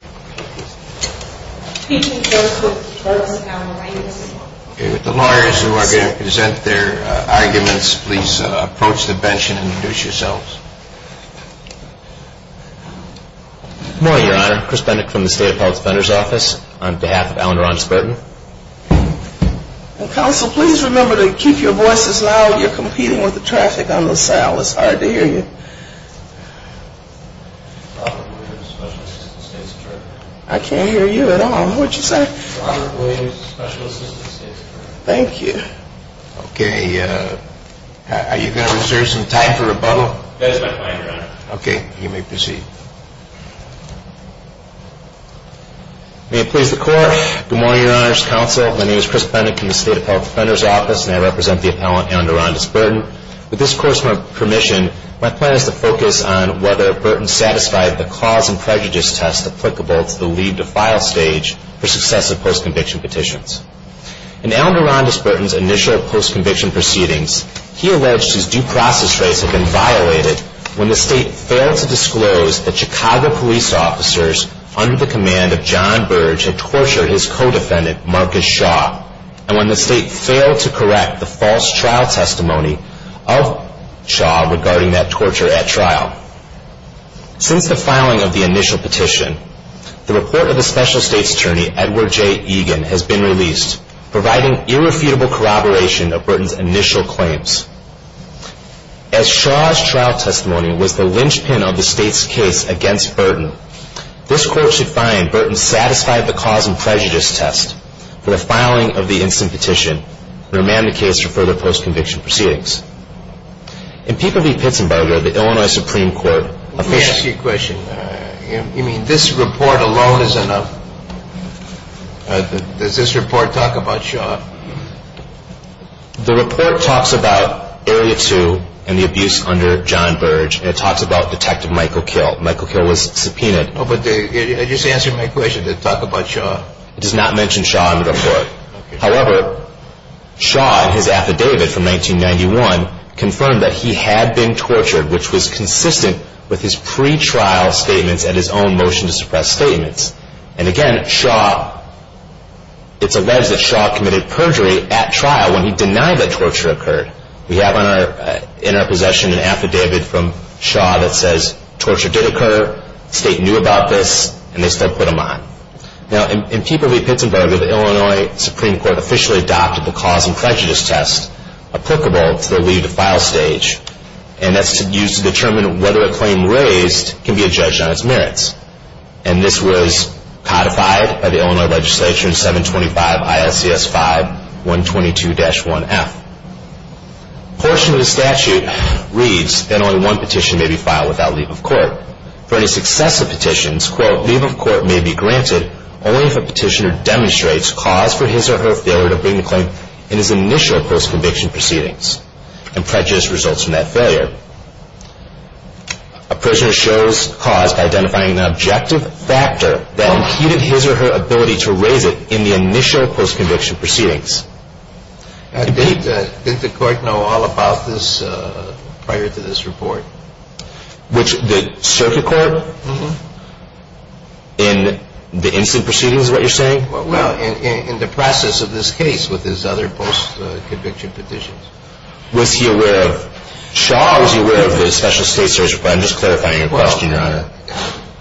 With the lawyers who are going to present their arguments, please approach the bench and introduce yourselves. Good morning, Your Honor. Chris Bendick from the State Appellate Defender's Office on behalf of Alan Ron Spurton. Counsel, please remember to keep your voices loud. You're competing with the traffic on Los Alamos. It's hard to hear you. I can't hear you at all. What did you say? Thank you. Okay. Are you going to reserve some time for rebuttal? That is my plan, Your Honor. Okay. You may proceed. May it please the Court. Good morning, Your Honor's Counsel. My name is Chris Bendick from the State Appellate Defender's Office and I represent the appellant, Alan Ron Spurton. With this Court's permission, my plan is to focus on whether Burton satisfied the cause and prejudice test applicable to the leave to file stage for successive post-conviction petitions. In Alan Ron Spurton's initial post-conviction proceedings, he alleged his due process rights had been violated when the State failed to disclose that Chicago police officers under the command of John Burge had tortured his co-defendant, Marcus Shaw, and when the State failed to correct the false trial testimony of Shaw regarding that torture at trial. Since the filing of the initial petition, the report of the Special States Attorney, Edward J. Egan, has been released, providing irrefutable corroboration of Burton's initial claims. As Shaw's trial testimony was the linchpin of the State's case against Burton, this Court should find Burton satisfied the cause and prejudice test for the filing of the instant petition and amend the case for further post-conviction proceedings. In Peacock v. Pitzenberger, the Illinois Supreme Court officially… Let me ask you a question. You mean this report alone is enough? Does this report talk about Shaw? The report talks about Area 2 and the abuse under John Burge, and it talks about Detective Michael Kill. Michael Kill was subpoenaed. Oh, but you're just answering my question. Does it talk about Shaw? It does not mention Shaw in the report. However, Shaw, in his affidavit from 1991, confirmed that he had been tortured, which was consistent with his pre-trial statements and his own motion to suppress statements. And again, it's alleged that Shaw committed perjury at trial when he denied that torture occurred. We have in our possession an affidavit from Shaw that says torture did occur, the State knew about this, and they still put him on. Now, in Peacock v. Pitzenberger, the Illinois Supreme Court officially adopted the cause and prejudice test applicable to the leave to file stage, and that's used to determine whether a claim raised can be adjudged on its merits. And this was codified by the Illinois Legislature in 725 ISCS 5122-1F. A portion of the statute reads that only one petition may be filed without leave of court. For any successive petitions, quote, leave of court may be granted only if a petitioner demonstrates cause for his or her failure to bring the claim in his initial post-conviction proceedings. And prejudice results from that failure. A prisoner shows cause by identifying an objective factor that impeded his or her ability to raise it in the initial post-conviction proceedings. Did the court know all about this prior to this report? Which the circuit court? Mm-hmm. In the instant proceedings is what you're saying? Well, in the process of this case with his other post-conviction petitions. Was he aware of Shaw? Or was he aware of the special state search report? I'm just clarifying your question, Your Honor.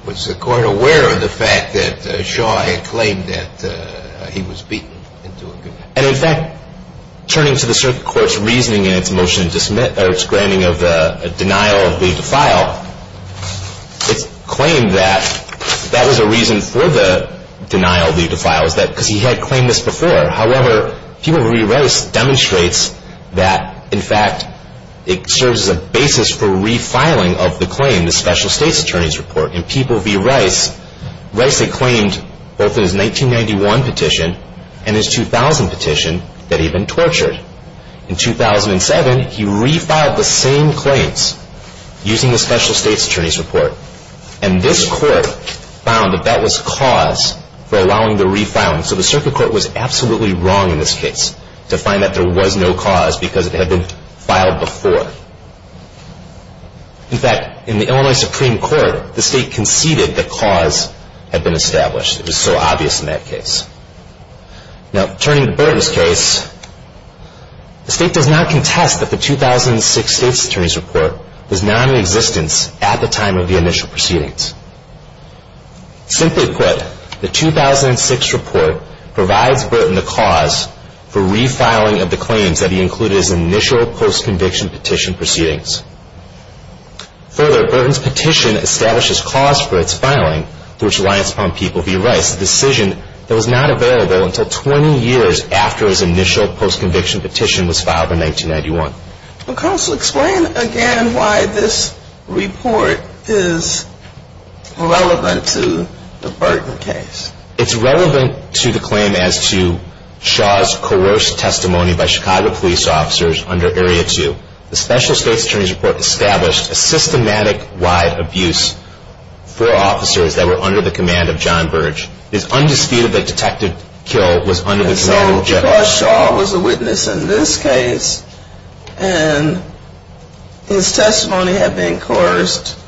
Was the court aware of the fact that Shaw had claimed that he was beaten into a conviction? And in fact, turning to the circuit court's reasoning in its motion to submit, or its granting of the denial of leave to file, Shaw claimed that that was a reason for the denial of leave to file, because he had claimed this before. However, people v. Rice demonstrates that, in fact, it serves as a basis for refiling of the claim, the special state's attorney's report. In people v. Rice, Rice had claimed both in his 1991 petition and his 2000 petition that he'd been tortured. In 2007, he refiled the same claims using the special state's attorney's report. And this court found that that was cause for allowing the refiling. So the circuit court was absolutely wrong in this case to find that there was no cause because it had been filed before. In fact, in the Illinois Supreme Court, the state conceded the cause had been established. It was so obvious in that case. Now, turning to Burton's case, the state does not contest that the 2006 state's attorney's report was not in existence at the time of the initial proceedings. Simply put, the 2006 report provides Burton the cause for refiling of the claims that he included in his initial post-conviction petition proceedings. Further, Burton's petition establishes cause for its filing through which reliance upon people v. Rice, a decision that was not available until 20 years after his initial post-conviction petition was filed in 1991. Counsel, explain again why this report is relevant to the Burton case. It's relevant to the claim as to Shaw's coerced testimony by Chicago police officers under Area 2. The special state's attorney's report established a systematic wide abuse for officers that were under the command of John Burge. It is undisputed that detective Kill was under the command of a judge. So because Shaw was a witness in this case and his testimony had been coerced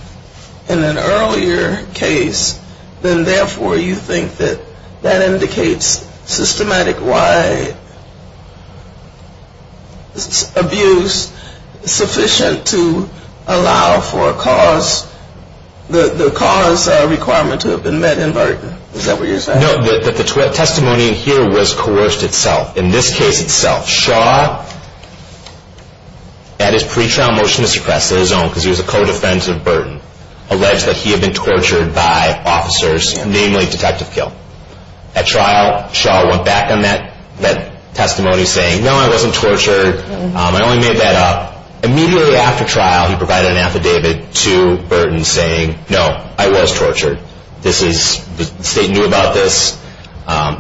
in an earlier case, then therefore you think that that indicates systematic wide abuse sufficient to allow for the cause requirement to have been met in Burton. Is that what you're saying? No, that the testimony in here was coerced itself. In this case itself, Shaw, at his pretrial motion to suppress his own, because he was a co-defense of Burton, alleged that he had been tortured by officers, namely detective Kill. At trial, Shaw went back on that testimony saying, no, I wasn't tortured. I only made that up. Immediately after trial, he provided an affidavit to Burton saying, no, I was tortured. The state knew about this.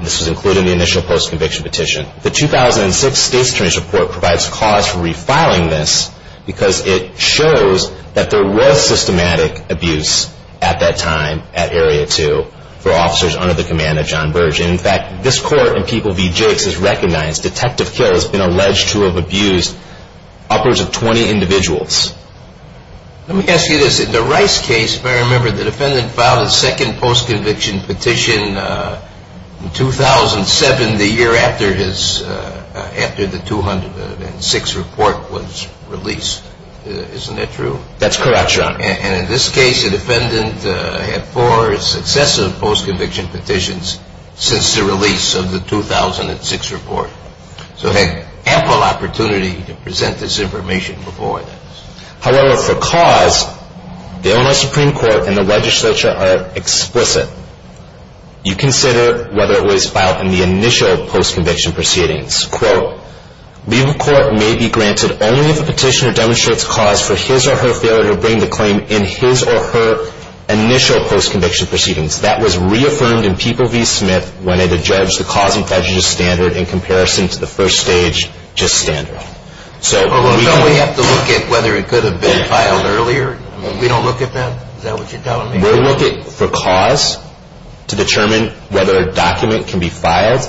This was included in the initial post-conviction petition. The 2006 state's attorney's report provides cause for refiling this, because it shows that there was systematic abuse at that time at Area 2 for officers under the command of John Burge. In fact, this court in People v. Jakes has recognized detective Kill has been alleged to have abused upwards of 20 individuals. Let me ask you this. In the Rice case, if I remember, the defendant filed a second post-conviction petition in 2007, the year after the 2006 report was released. Isn't that true? That's correct, Your Honor. And in this case, the defendant had four successive post-conviction petitions since the release of the 2006 report. So he had ample opportunity to present this information before this. However, for cause, the Illinois Supreme Court and the legislature are explicit. You consider whether it was filed in the initial post-conviction proceedings. Quote, legal court may be granted only if a petitioner demonstrates cause for his or her failure to bring the claim in his or her initial post-conviction proceedings. That was reaffirmed in People v. Smith when it adjudged the cause and prejudice standard in comparison to the first stage just standard. So we have to look at whether it could have been filed earlier? We don't look at that? Is that what you're telling me? We're looking for cause to determine whether a document can be filed.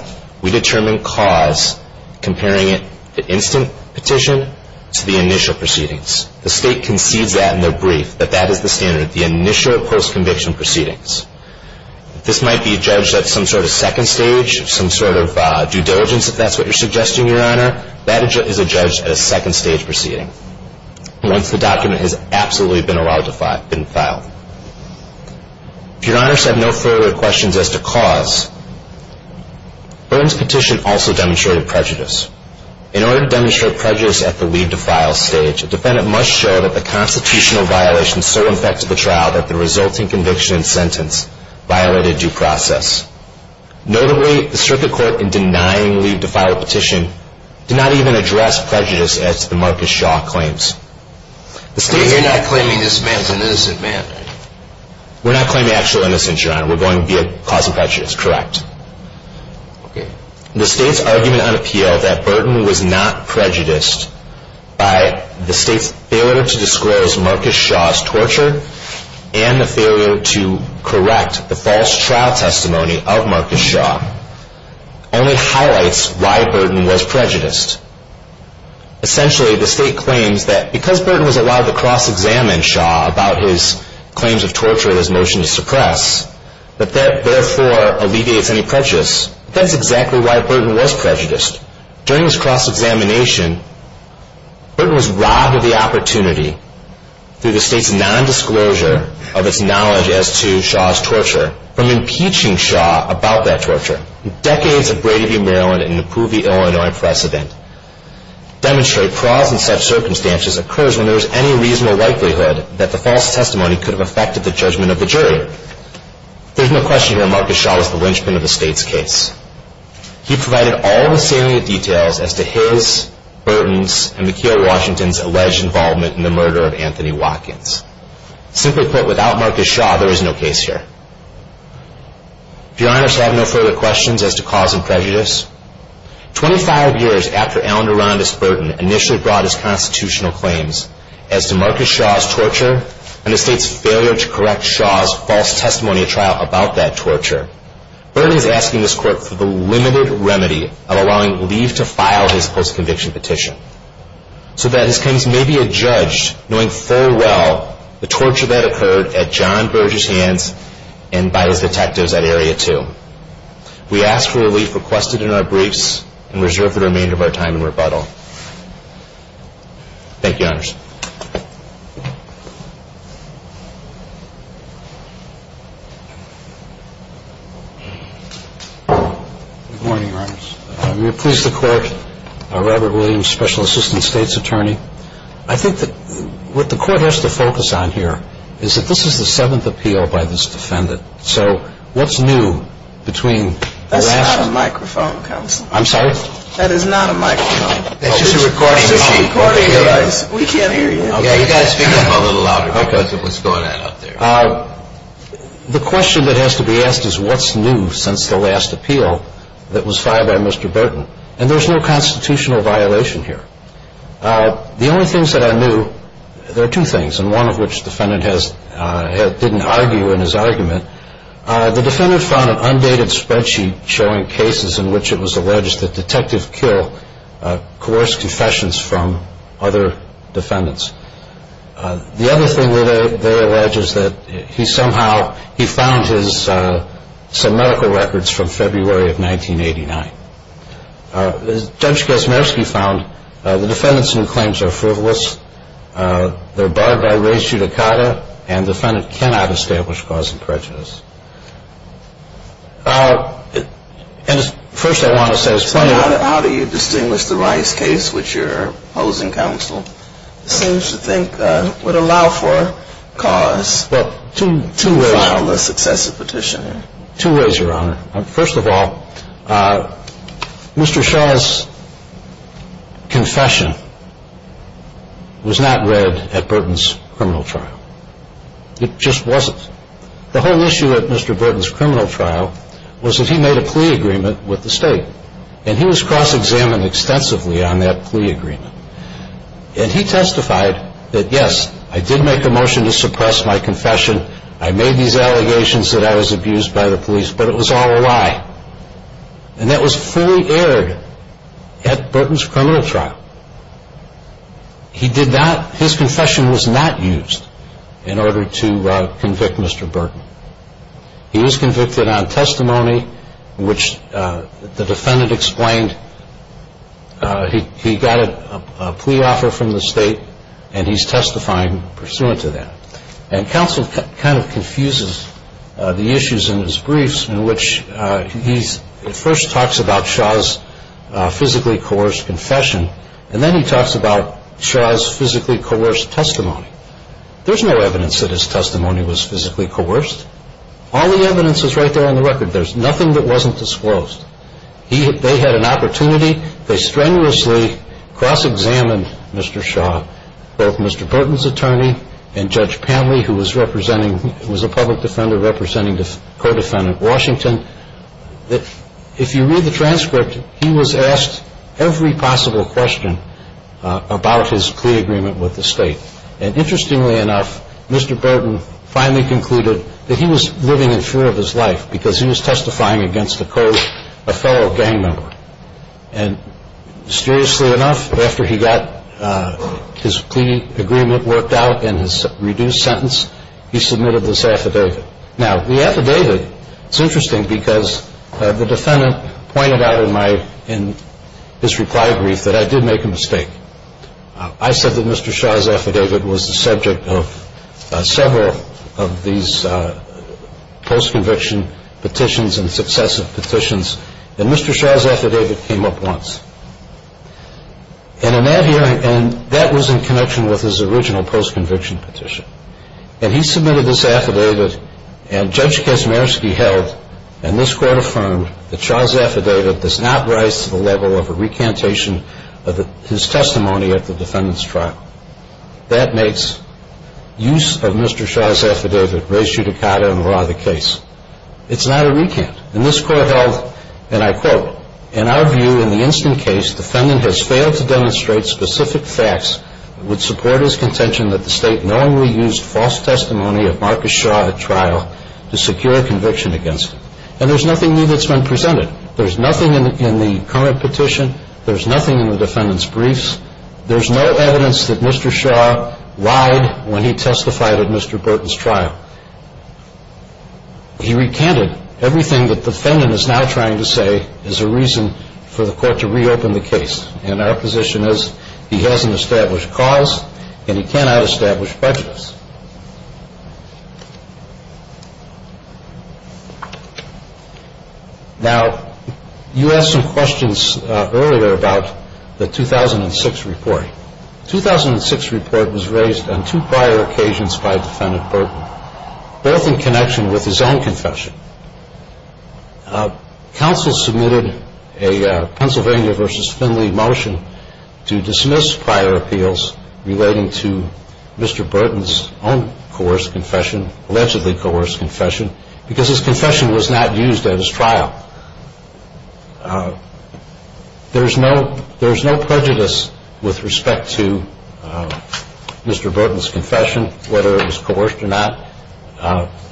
We determine cause comparing it, the instant petition, to the initial proceedings. The state concedes that in their brief, that that is the standard, the initial post-conviction proceedings. This might be judged at some sort of second stage, some sort of due diligence, if that's what you're suggesting, Your Honor. That is adjudged at a second stage proceeding, once the document has absolutely been allowed to file, been filed. If Your Honors have no further questions as to cause, Byrne's petition also demonstrated prejudice. In order to demonstrate prejudice at the leave-to-file stage, a defendant must show that the constitutional violation so infected the trial that the resulting conviction and sentence violated due process. Notably, the circuit court, in denying leave-to-file petition, did not even address prejudice as to the Marcus Shaw claims. You're not claiming this man's an innocent man? We're not claiming actual innocence, Your Honor. We're going via cause and prejudice, correct. The state's argument on appeal that Byrne was not prejudiced by the state's failure to disclose Marcus Shaw's torture and the failure to correct the false trial testimony of Marcus Shaw, only highlights why Byrne was prejudiced. Essentially, the state claims that because Byrne was allowed to cross-examine Shaw about his claims of torture and his motion to suppress, that that, therefore, alleviates any prejudice. That's exactly why Byrne was prejudiced. During his cross-examination, Byrne was robbed of the opportunity through the state's nondisclosure of its knowledge as to Shaw's torture from impeaching Shaw about that torture. Decades of Brady v. Maryland and the Poole v. Illinois press event demonstrate occurs when there is any reasonable likelihood that the false testimony could have affected the judgment of the jury. There's no question here Marcus Shaw was the linchpin of the state's case. He provided all the salient details as to his, Burton's, and McKeel Washington's alleged involvement in the murder of Anthony Watkins. Simply put, without Marcus Shaw, there is no case here. Do Your Honors have no further questions as to cause and prejudice? Twenty-five years after Alan Arandis Burton initially brought his constitutional claims as to Marcus Shaw's torture and the state's failure to correct Shaw's false testimony at trial about that torture, Burton is asking this court for the limited remedy of allowing Lee to file his post-conviction petition so that his claims may be adjudged knowing full well the torture that occurred at John Burgess' hands and by his detectives at Area 2. We ask for relief requested in our briefs and reserve the remainder of our time in rebuttal. Thank you, Your Honors. Good morning, Your Honors. We are pleased to court Robert Williams, Special Assistant State's Attorney. I think that what the court has to focus on here is that this is the seventh appeal by this defendant. So what's new between the last- That's not a microphone, counsel. I'm sorry? That is not a microphone. It's just a recording device. We can't hear you. You've got to speak up a little louder because of what's going on out there. The question that has to be asked is what's new since the last appeal that was filed by Mr. Burton. And there's no constitutional violation here. The only things that I knew, there are two things, and one of which the defendant didn't argue in his argument. The defendant found an undated spreadsheet showing cases in which it was alleged that detectives kill coerced confessions from other defendants. The other thing that they allege is that he somehow, he found some medical records from February of 1989. Judge Kaczmarski found the defendants' new claims are frivolous, they're barred by race judicata, and the defendant cannot establish cause of prejudice. And first I want to say- How do you distinguish the Rice case, which you're opposing, counsel, seems to think would allow for cause- Well, two ways- To file a successive petition. Two ways, Your Honor. First of all, Mr. Shaw's confession was not read at Burton's criminal trial. It just wasn't. The whole issue at Mr. Burton's criminal trial was that he made a plea agreement with the state, and he was cross-examined extensively on that plea agreement. And he testified that, yes, I did make a motion to suppress my confession, I made these allegations that I was abused by the police, but it was all a lie. And that was fully aired at Burton's criminal trial. His confession was not used in order to convict Mr. Burton. He was convicted on testimony, which the defendant explained he got a plea offer from the state, and he's testifying pursuant to that. And counsel kind of confuses the issues in his briefs in which he first talks about Shaw's physically coerced confession, and then he talks about Shaw's physically coerced testimony. There's no evidence that his testimony was physically coerced. All the evidence is right there on the record. There's nothing that wasn't disclosed. They had an opportunity. They strenuously cross-examined Mr. Shaw, both Mr. Burton's attorney and Judge Panley, who was a public defender representing the co-defendant, Washington, that if you read the transcript, he was asked every possible question about his plea agreement with the state. And interestingly enough, Mr. Burton finally concluded that he was living in fear of his life because he was testifying against a fellow gang member. And mysteriously enough, after he got his plea agreement worked out and his reduced sentence, he submitted this affidavit. Now, the affidavit, it's interesting because the defendant pointed out in his reply brief that I did make a mistake. I said that Mr. Shaw's affidavit was the subject of several of these post-conviction petitions and successive petitions, and Mr. Shaw's affidavit came up once. And that was in connection with his original post-conviction petition. And he submitted this affidavit, and Judge Kaczmarski held, and this Court affirmed, that Shaw's affidavit does not rise to the level of a recantation of his testimony at the defendant's trial. That makes use of Mr. Shaw's affidavit res judicata in law the case. It's not a recant. And this Court held, and I quote, And there's nothing new that's been presented. There's nothing in the current petition. There's nothing in the defendant's briefs. There's no evidence that Mr. Shaw lied when he testified at Mr. Burton's trial. He recanted. Everything that the defendant is now trying to say is a reason for the Court to reopen the case. And our position is he hasn't established cause, and he cannot establish prejudice. Now, you asked some questions earlier about the 2006 report. The 2006 report was raised on two prior occasions by Defendant Burton, both in connection with his own confession. Counsel submitted a Pennsylvania v. Finley motion to dismiss prior appeals relating to Mr. Burton's own coerced confession, allegedly coerced confession, because his confession was not used at his trial. There's no prejudice with respect to Mr. Burton's confession, whether it was coerced or not.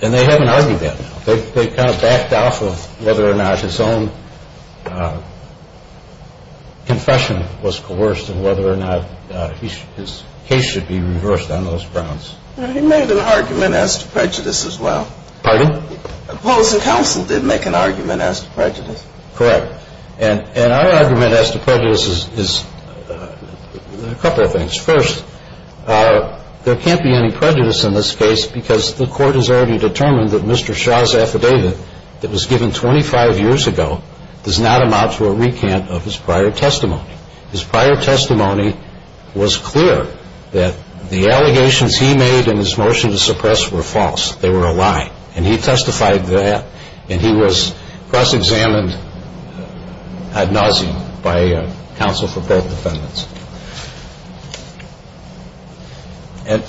And they haven't argued that now. They've kind of backed off of whether or not his own confession was coerced and whether or not his case should be reversed on those grounds. He made an argument as to prejudice as well. Pardon? Paulson Counsel did make an argument as to prejudice. Correct. And our argument as to prejudice is a couple of things. First, there can't be any prejudice in this case because the Court has already determined that Mr. Shaw's affidavit that was given 25 years ago does not amount to a recant of his prior testimony. His prior testimony was clear that the allegations he made in his motion to suppress were false. They were a lie. And he testified that. And he was cross-examined ad nauseam by counsel for both defendants. And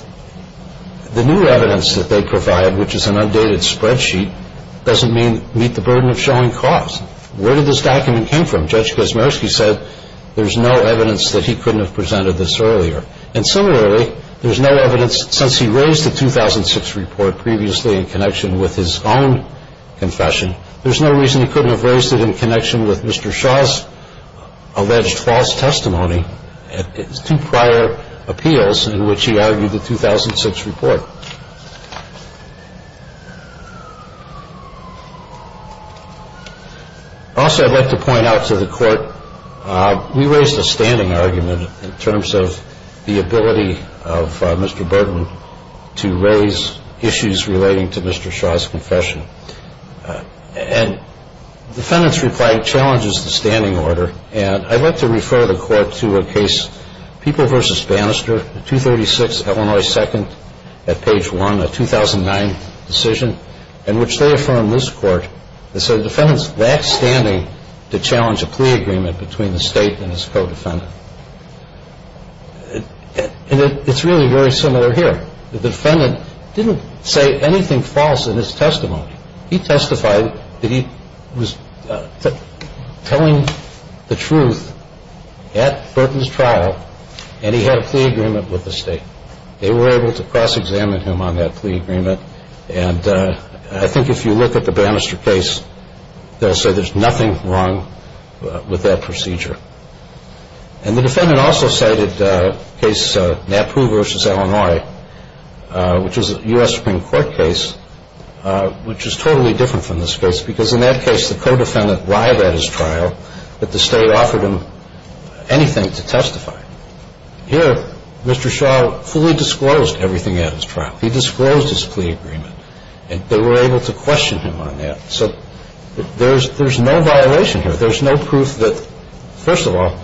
the new evidence that they provide, which is an undated spreadsheet, doesn't meet the burden of showing cause. Where did this document come from? Judge Kazmersky said there's no evidence that he couldn't have presented this earlier. And similarly, there's no evidence since he raised the 2006 report previously in connection with his own confession, there's no reason he couldn't have raised it in connection with Mr. Shaw's alleged false testimony at his two prior appeals in which he argued the 2006 report. Also, I'd like to point out to the Court, we raised a standing argument in terms of the ability of Mr. Birdman to raise issues relating to Mr. Shaw's confession. And the defendant's reply challenges the standing order, and I'd like to refer the Court to a case, People v. Bannister, 236 Illinois 2nd, at page 1, a 2009 decision, in which they affirm this Court, they said the defendant's lack standing to challenge a plea agreement between the State and his co-defendant. And it's really very similar here. The defendant didn't say anything false in his testimony. He testified that he was telling the truth at Birdman's trial, and he had a plea agreement with the State. They were able to cross-examine him on that plea agreement, and I think if you look at the Bannister case, they'll say there's nothing wrong with that procedure. And the defendant also cited a case, Napu v. Illinois, which is a U.S. Supreme Court case, which is totally different from this case because in that case the co-defendant lied at his trial, but the State offered him anything to testify. Here, Mr. Shaw fully disclosed everything at his trial. He disclosed his plea agreement, and they were able to question him on that. So there's no violation here. There's no proof that, first of all,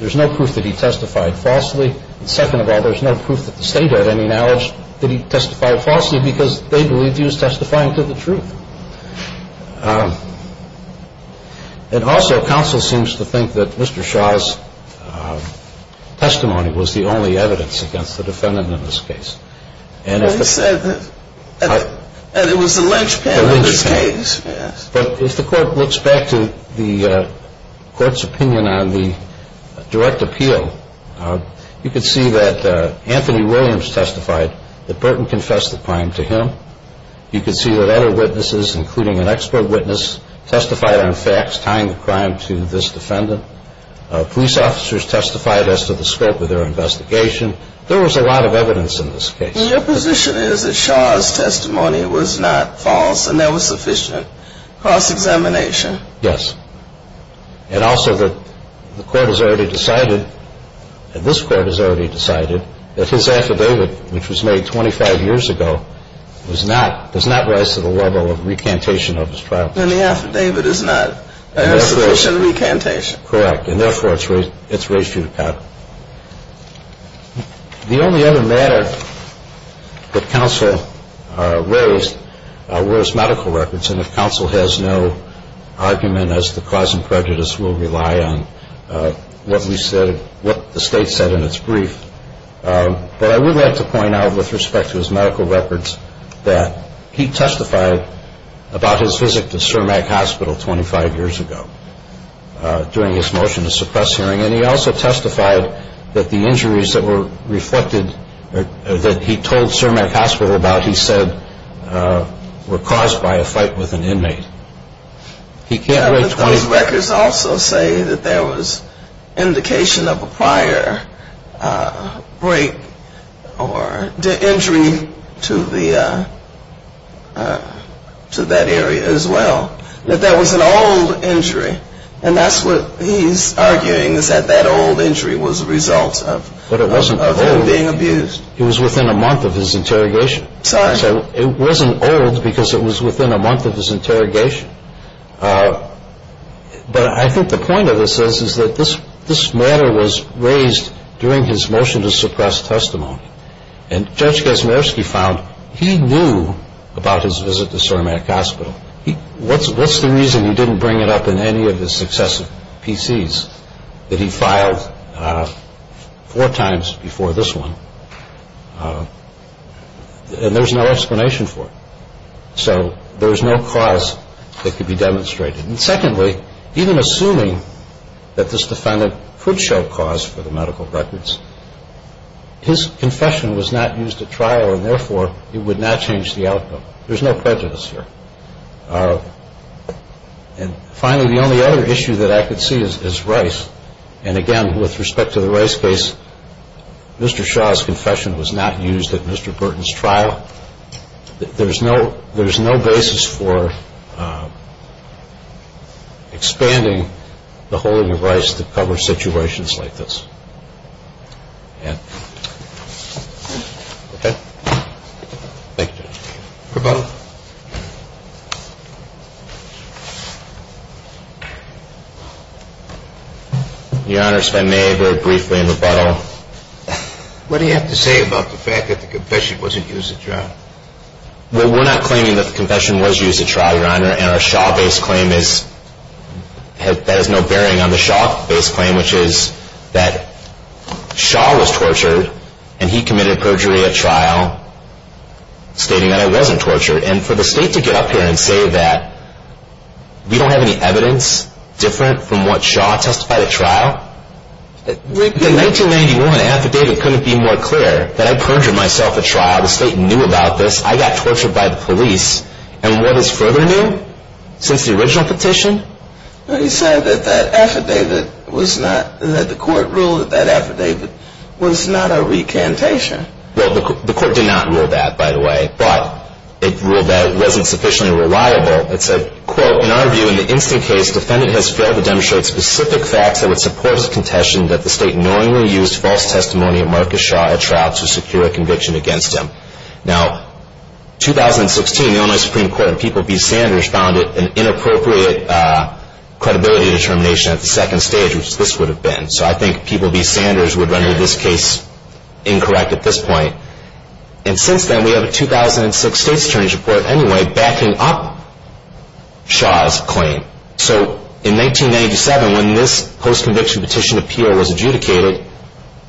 there's no proof that he testified falsely, and second of all, there's no proof that the State had any knowledge that he testified falsely because they believed he was testifying to the truth. And also, counsel seems to think that Mr. Shaw's testimony was the only evidence against the defendant in this case. Well, he said that it was the lynchpin in this case. But if the Court looks back to the Court's opinion on the direct appeal, you can see that Anthony Williams testified that Burton confessed the crime to him. You can see that other witnesses, including an expert witness, testified on facts tying the crime to this defendant. Police officers testified as to the scope of their investigation. There was a lot of evidence in this case. Your position is that Shaw's testimony was not false and there was sufficient cross-examination? Yes. And also that the Court has already decided, and this Court has already decided, that his affidavit, which was made 25 years ago, does not rise to the level of recantation of his trial. Then the affidavit is not a sufficient recantation. Correct. And therefore, it's raised to the count. The only other matter that counsel raised were his medical records. And if counsel has no argument, as to cause and prejudice, we'll rely on what the State said in its brief. But I would like to point out, with respect to his medical records, that he testified about his visit to Cermak Hospital 25 years ago during his motion to suppress hearing. And he also testified that the injuries that were reflected, that he told Cermak Hospital about, he said were caused by a fight with an inmate. Those records also say that there was indication of a prior break or injury to that area as well. That there was an old injury. And that's what he's arguing, is that that old injury was a result of him being abused. But it wasn't old. It was within a month of his interrogation. It wasn't old, because it was within a month of his interrogation. But I think the point of this is that this matter was raised during his motion to suppress testimony. And Judge Gazmersky found he knew about his visit to Cermak Hospital. Now, what's the reason he didn't bring it up in any of his successive PCs that he filed four times before this one? And there's no explanation for it. So there's no cause that could be demonstrated. And secondly, even assuming that this defendant could show cause for the medical records, his confession was not used at trial, and therefore it would not change the outcome. So there's no prejudice here. And finally, the only other issue that I could see is Rice. And again, with respect to the Rice case, Mr. Shaw's confession was not used at Mr. Burton's trial. There's no basis for expanding the holding of Rice to cover situations like this. Okay. Thank you, Judge. Rebuttal. Your Honor, if I may, very briefly, in rebuttal. What do you have to say about the fact that the confession wasn't used at trial? Well, we're not claiming that the confession was used at trial, Your Honor, and our Shaw-based claim is that has no bearing on the Shaw-based claim, which is that Shaw was tortured and he committed perjury at trial, stating that it wasn't tortured. And for the State to get up here and say that we don't have any evidence different from what Shaw testified at trial, the 1991 affidavit couldn't be more clear that I perjured myself at trial. The State knew about this. I got tortured by the police. And what is further new since the original petition? Well, you said that that affidavit was not, that the court ruled that that affidavit was not a recantation. Well, the court did not rule that, by the way, but it ruled that it wasn't sufficiently reliable. It said, quote, In our view, in the instant case, defendant has failed to demonstrate specific facts that would support his contention that the State knowingly used false testimony of Marcus Shaw at trial to secure a conviction against him. Now, 2016, the Illinois Supreme Court and People v. Sanders found it an inappropriate credibility determination at the second stage, which this would have been. So I think People v. Sanders would render this case incorrect at this point. And since then, we have a 2006 State's Attorney's Report, anyway, backing up Shaw's claim. So in 1997, when this post-conviction petition appeal was adjudicated,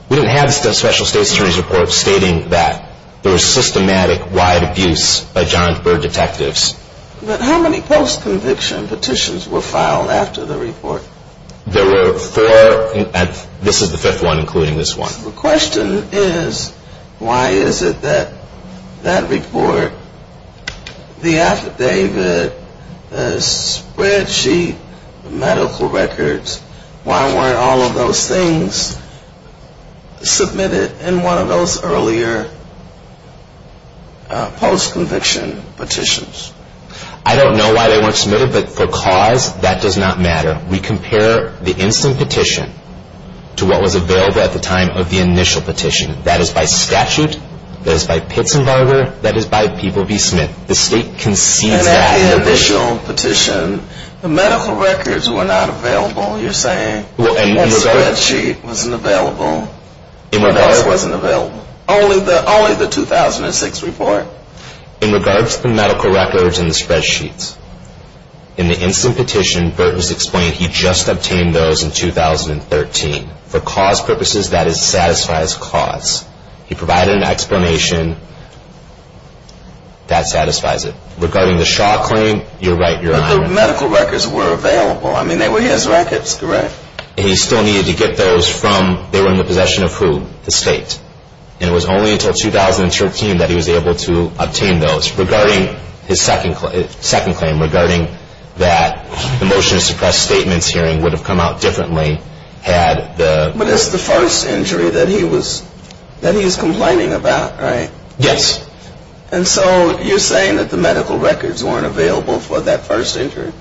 we didn't have the Special State's Attorney's Report stating that there was systematic, wide abuse by Johnsburg detectives. But how many post-conviction petitions were filed after the report? There were four, and this is the fifth one, including this one. The question is, why is it that that report, the affidavit, the spreadsheet, the medical records, why weren't all of those things submitted in one of those earlier post-conviction petitions? I don't know why they weren't submitted, but for cause, that does not matter. We compare the instant petition to what was available at the time of the initial petition. That is by statute, that is by Pitts and Barger, that is by People v. Smith. The State concedes that. At the initial petition, the medical records were not available, you're saying? The spreadsheet wasn't available? No, it wasn't available. Only the 2006 report? In regards to the medical records and the spreadsheets, in the instant petition, Burt has explained he just obtained those in 2013. For cause purposes, that is, it satisfies cause. He provided an explanation, that satisfies it. Regarding the Shaw claim, you're right, you're on it. But the medical records were available. I mean, they were his records, correct? He still needed to get those from, they were in the possession of who? The State. And it was only until 2013 that he was able to obtain those. Regarding his second claim, regarding that the motion to suppress statements hearing would have come out differently had the... But it's the first injury that he was complaining about, right? Yes. And so you're saying that the medical records weren't available for that first injury?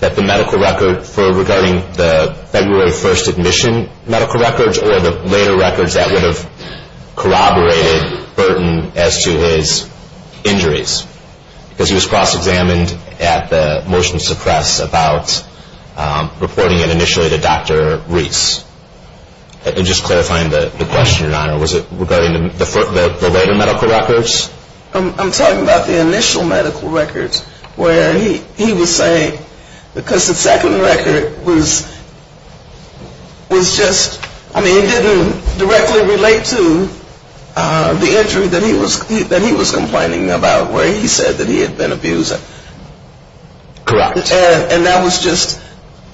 That the medical record for regarding the February 1st admission medical records or the later records that would have corroborated Burton as to his injuries. Because he was cross-examined at the motion to suppress about reporting it initially to Dr. Reese. And just clarifying the question, Your Honor, was it regarding the later medical records? I'm talking about the initial medical records where he was saying, because the second record was just, I mean, it didn't directly relate to the injury that he was complaining about where he said that he had been abused. Correct. And that was just,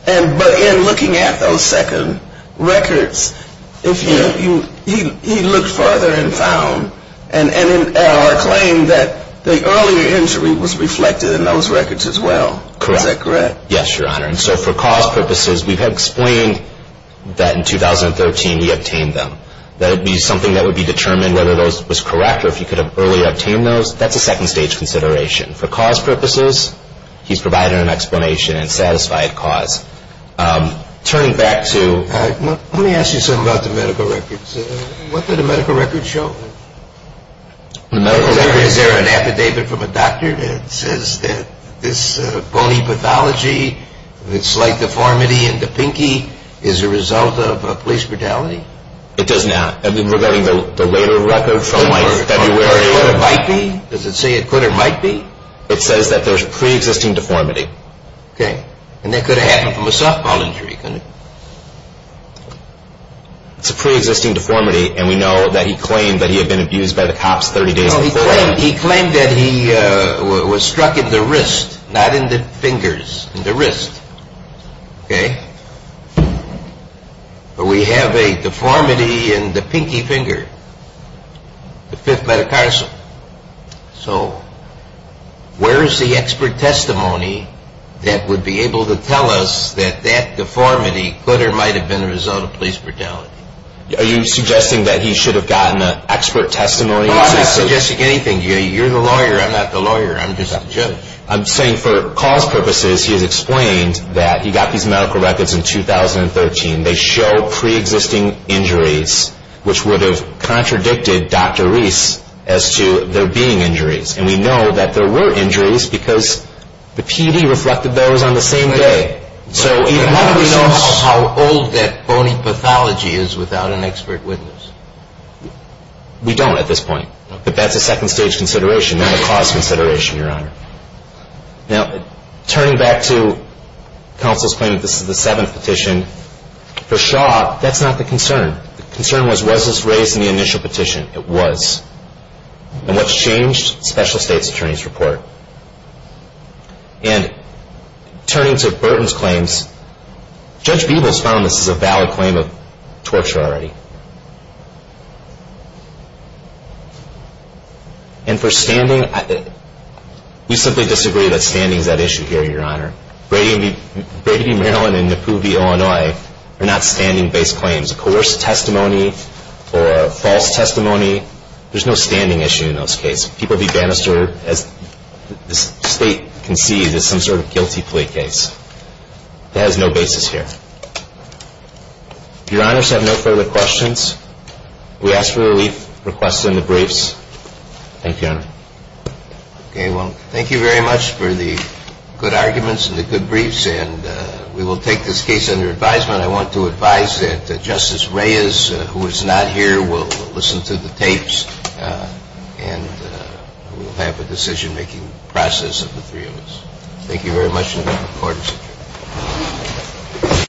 but in looking at those second records, he looked further and found, and in our claim, that the earlier injury was reflected in those records as well. Correct. Is that correct? Yes, Your Honor. And so for cause purposes, we've explained that in 2013 he obtained them. That it would be something that would be determined whether those was correct or if he could have earlier obtained those, that's a second stage consideration. For cause purposes, he's provided an explanation and satisfied cause. Turning back to... Let me ask you something about the medical records. What did the medical records show? The medical records... Is there an affidavit from a doctor that says that this bony pathology, the slight deformity in the pinky is a result of a police brutality? It does not. I mean, regarding the later records from February... It says that there's pre-existing deformity. Okay. And that could have happened from a softball injury, couldn't it? It's a pre-existing deformity, and we know that he claimed that he had been abused by the cops 30 days before. He claimed that he was struck in the wrist, not in the fingers, in the wrist. Okay. But we have a deformity in the pinky finger, the fifth metacarsal. So where is the expert testimony that would be able to tell us that that deformity could or might have been a result of police brutality? Are you suggesting that he should have gotten an expert testimony? No, I'm not suggesting anything. You're the lawyer. I'm not the lawyer. I'm just the judge. I'm saying for cause purposes, he has explained that he got these medical records in 2013. They show pre-existing injuries, which would have contradicted Dr. Reese as to there being injuries. And we know that there were injuries because the PD reflected those on the same day. So how do we know how old that bony pathology is without an expert witness? We don't at this point. But that's a second-stage consideration, not a cause consideration, Your Honor. Now, turning back to counsel's claim that this is the seventh petition, for Shaw, that's not the concern. The concern was, was this raised in the initial petition? It was. And what's changed? Special State's attorney's report. And turning to Burton's claims, Judge Beeble has found this is a valid claim of torture already. And for standing, we simply disagree that standing is at issue here, Your Honor. Brady v. Maryland and Napoo v. Illinois are not standing-based claims. Coerced testimony or false testimony, there's no standing issue in those cases. People be banished or, as the State concedes, is some sort of guilty plea case. It has no basis here. If Your Honors have no further questions, we ask for relief requested in the briefs. Thank you, Your Honor. Okay. Well, thank you very much for the good arguments and the good briefs. And we will take this case under advisement. I want to advise that Justice Reyes, who is not here, will listen to the tapes and we will have a decision-making process of the three of us. Thank you very much, Court.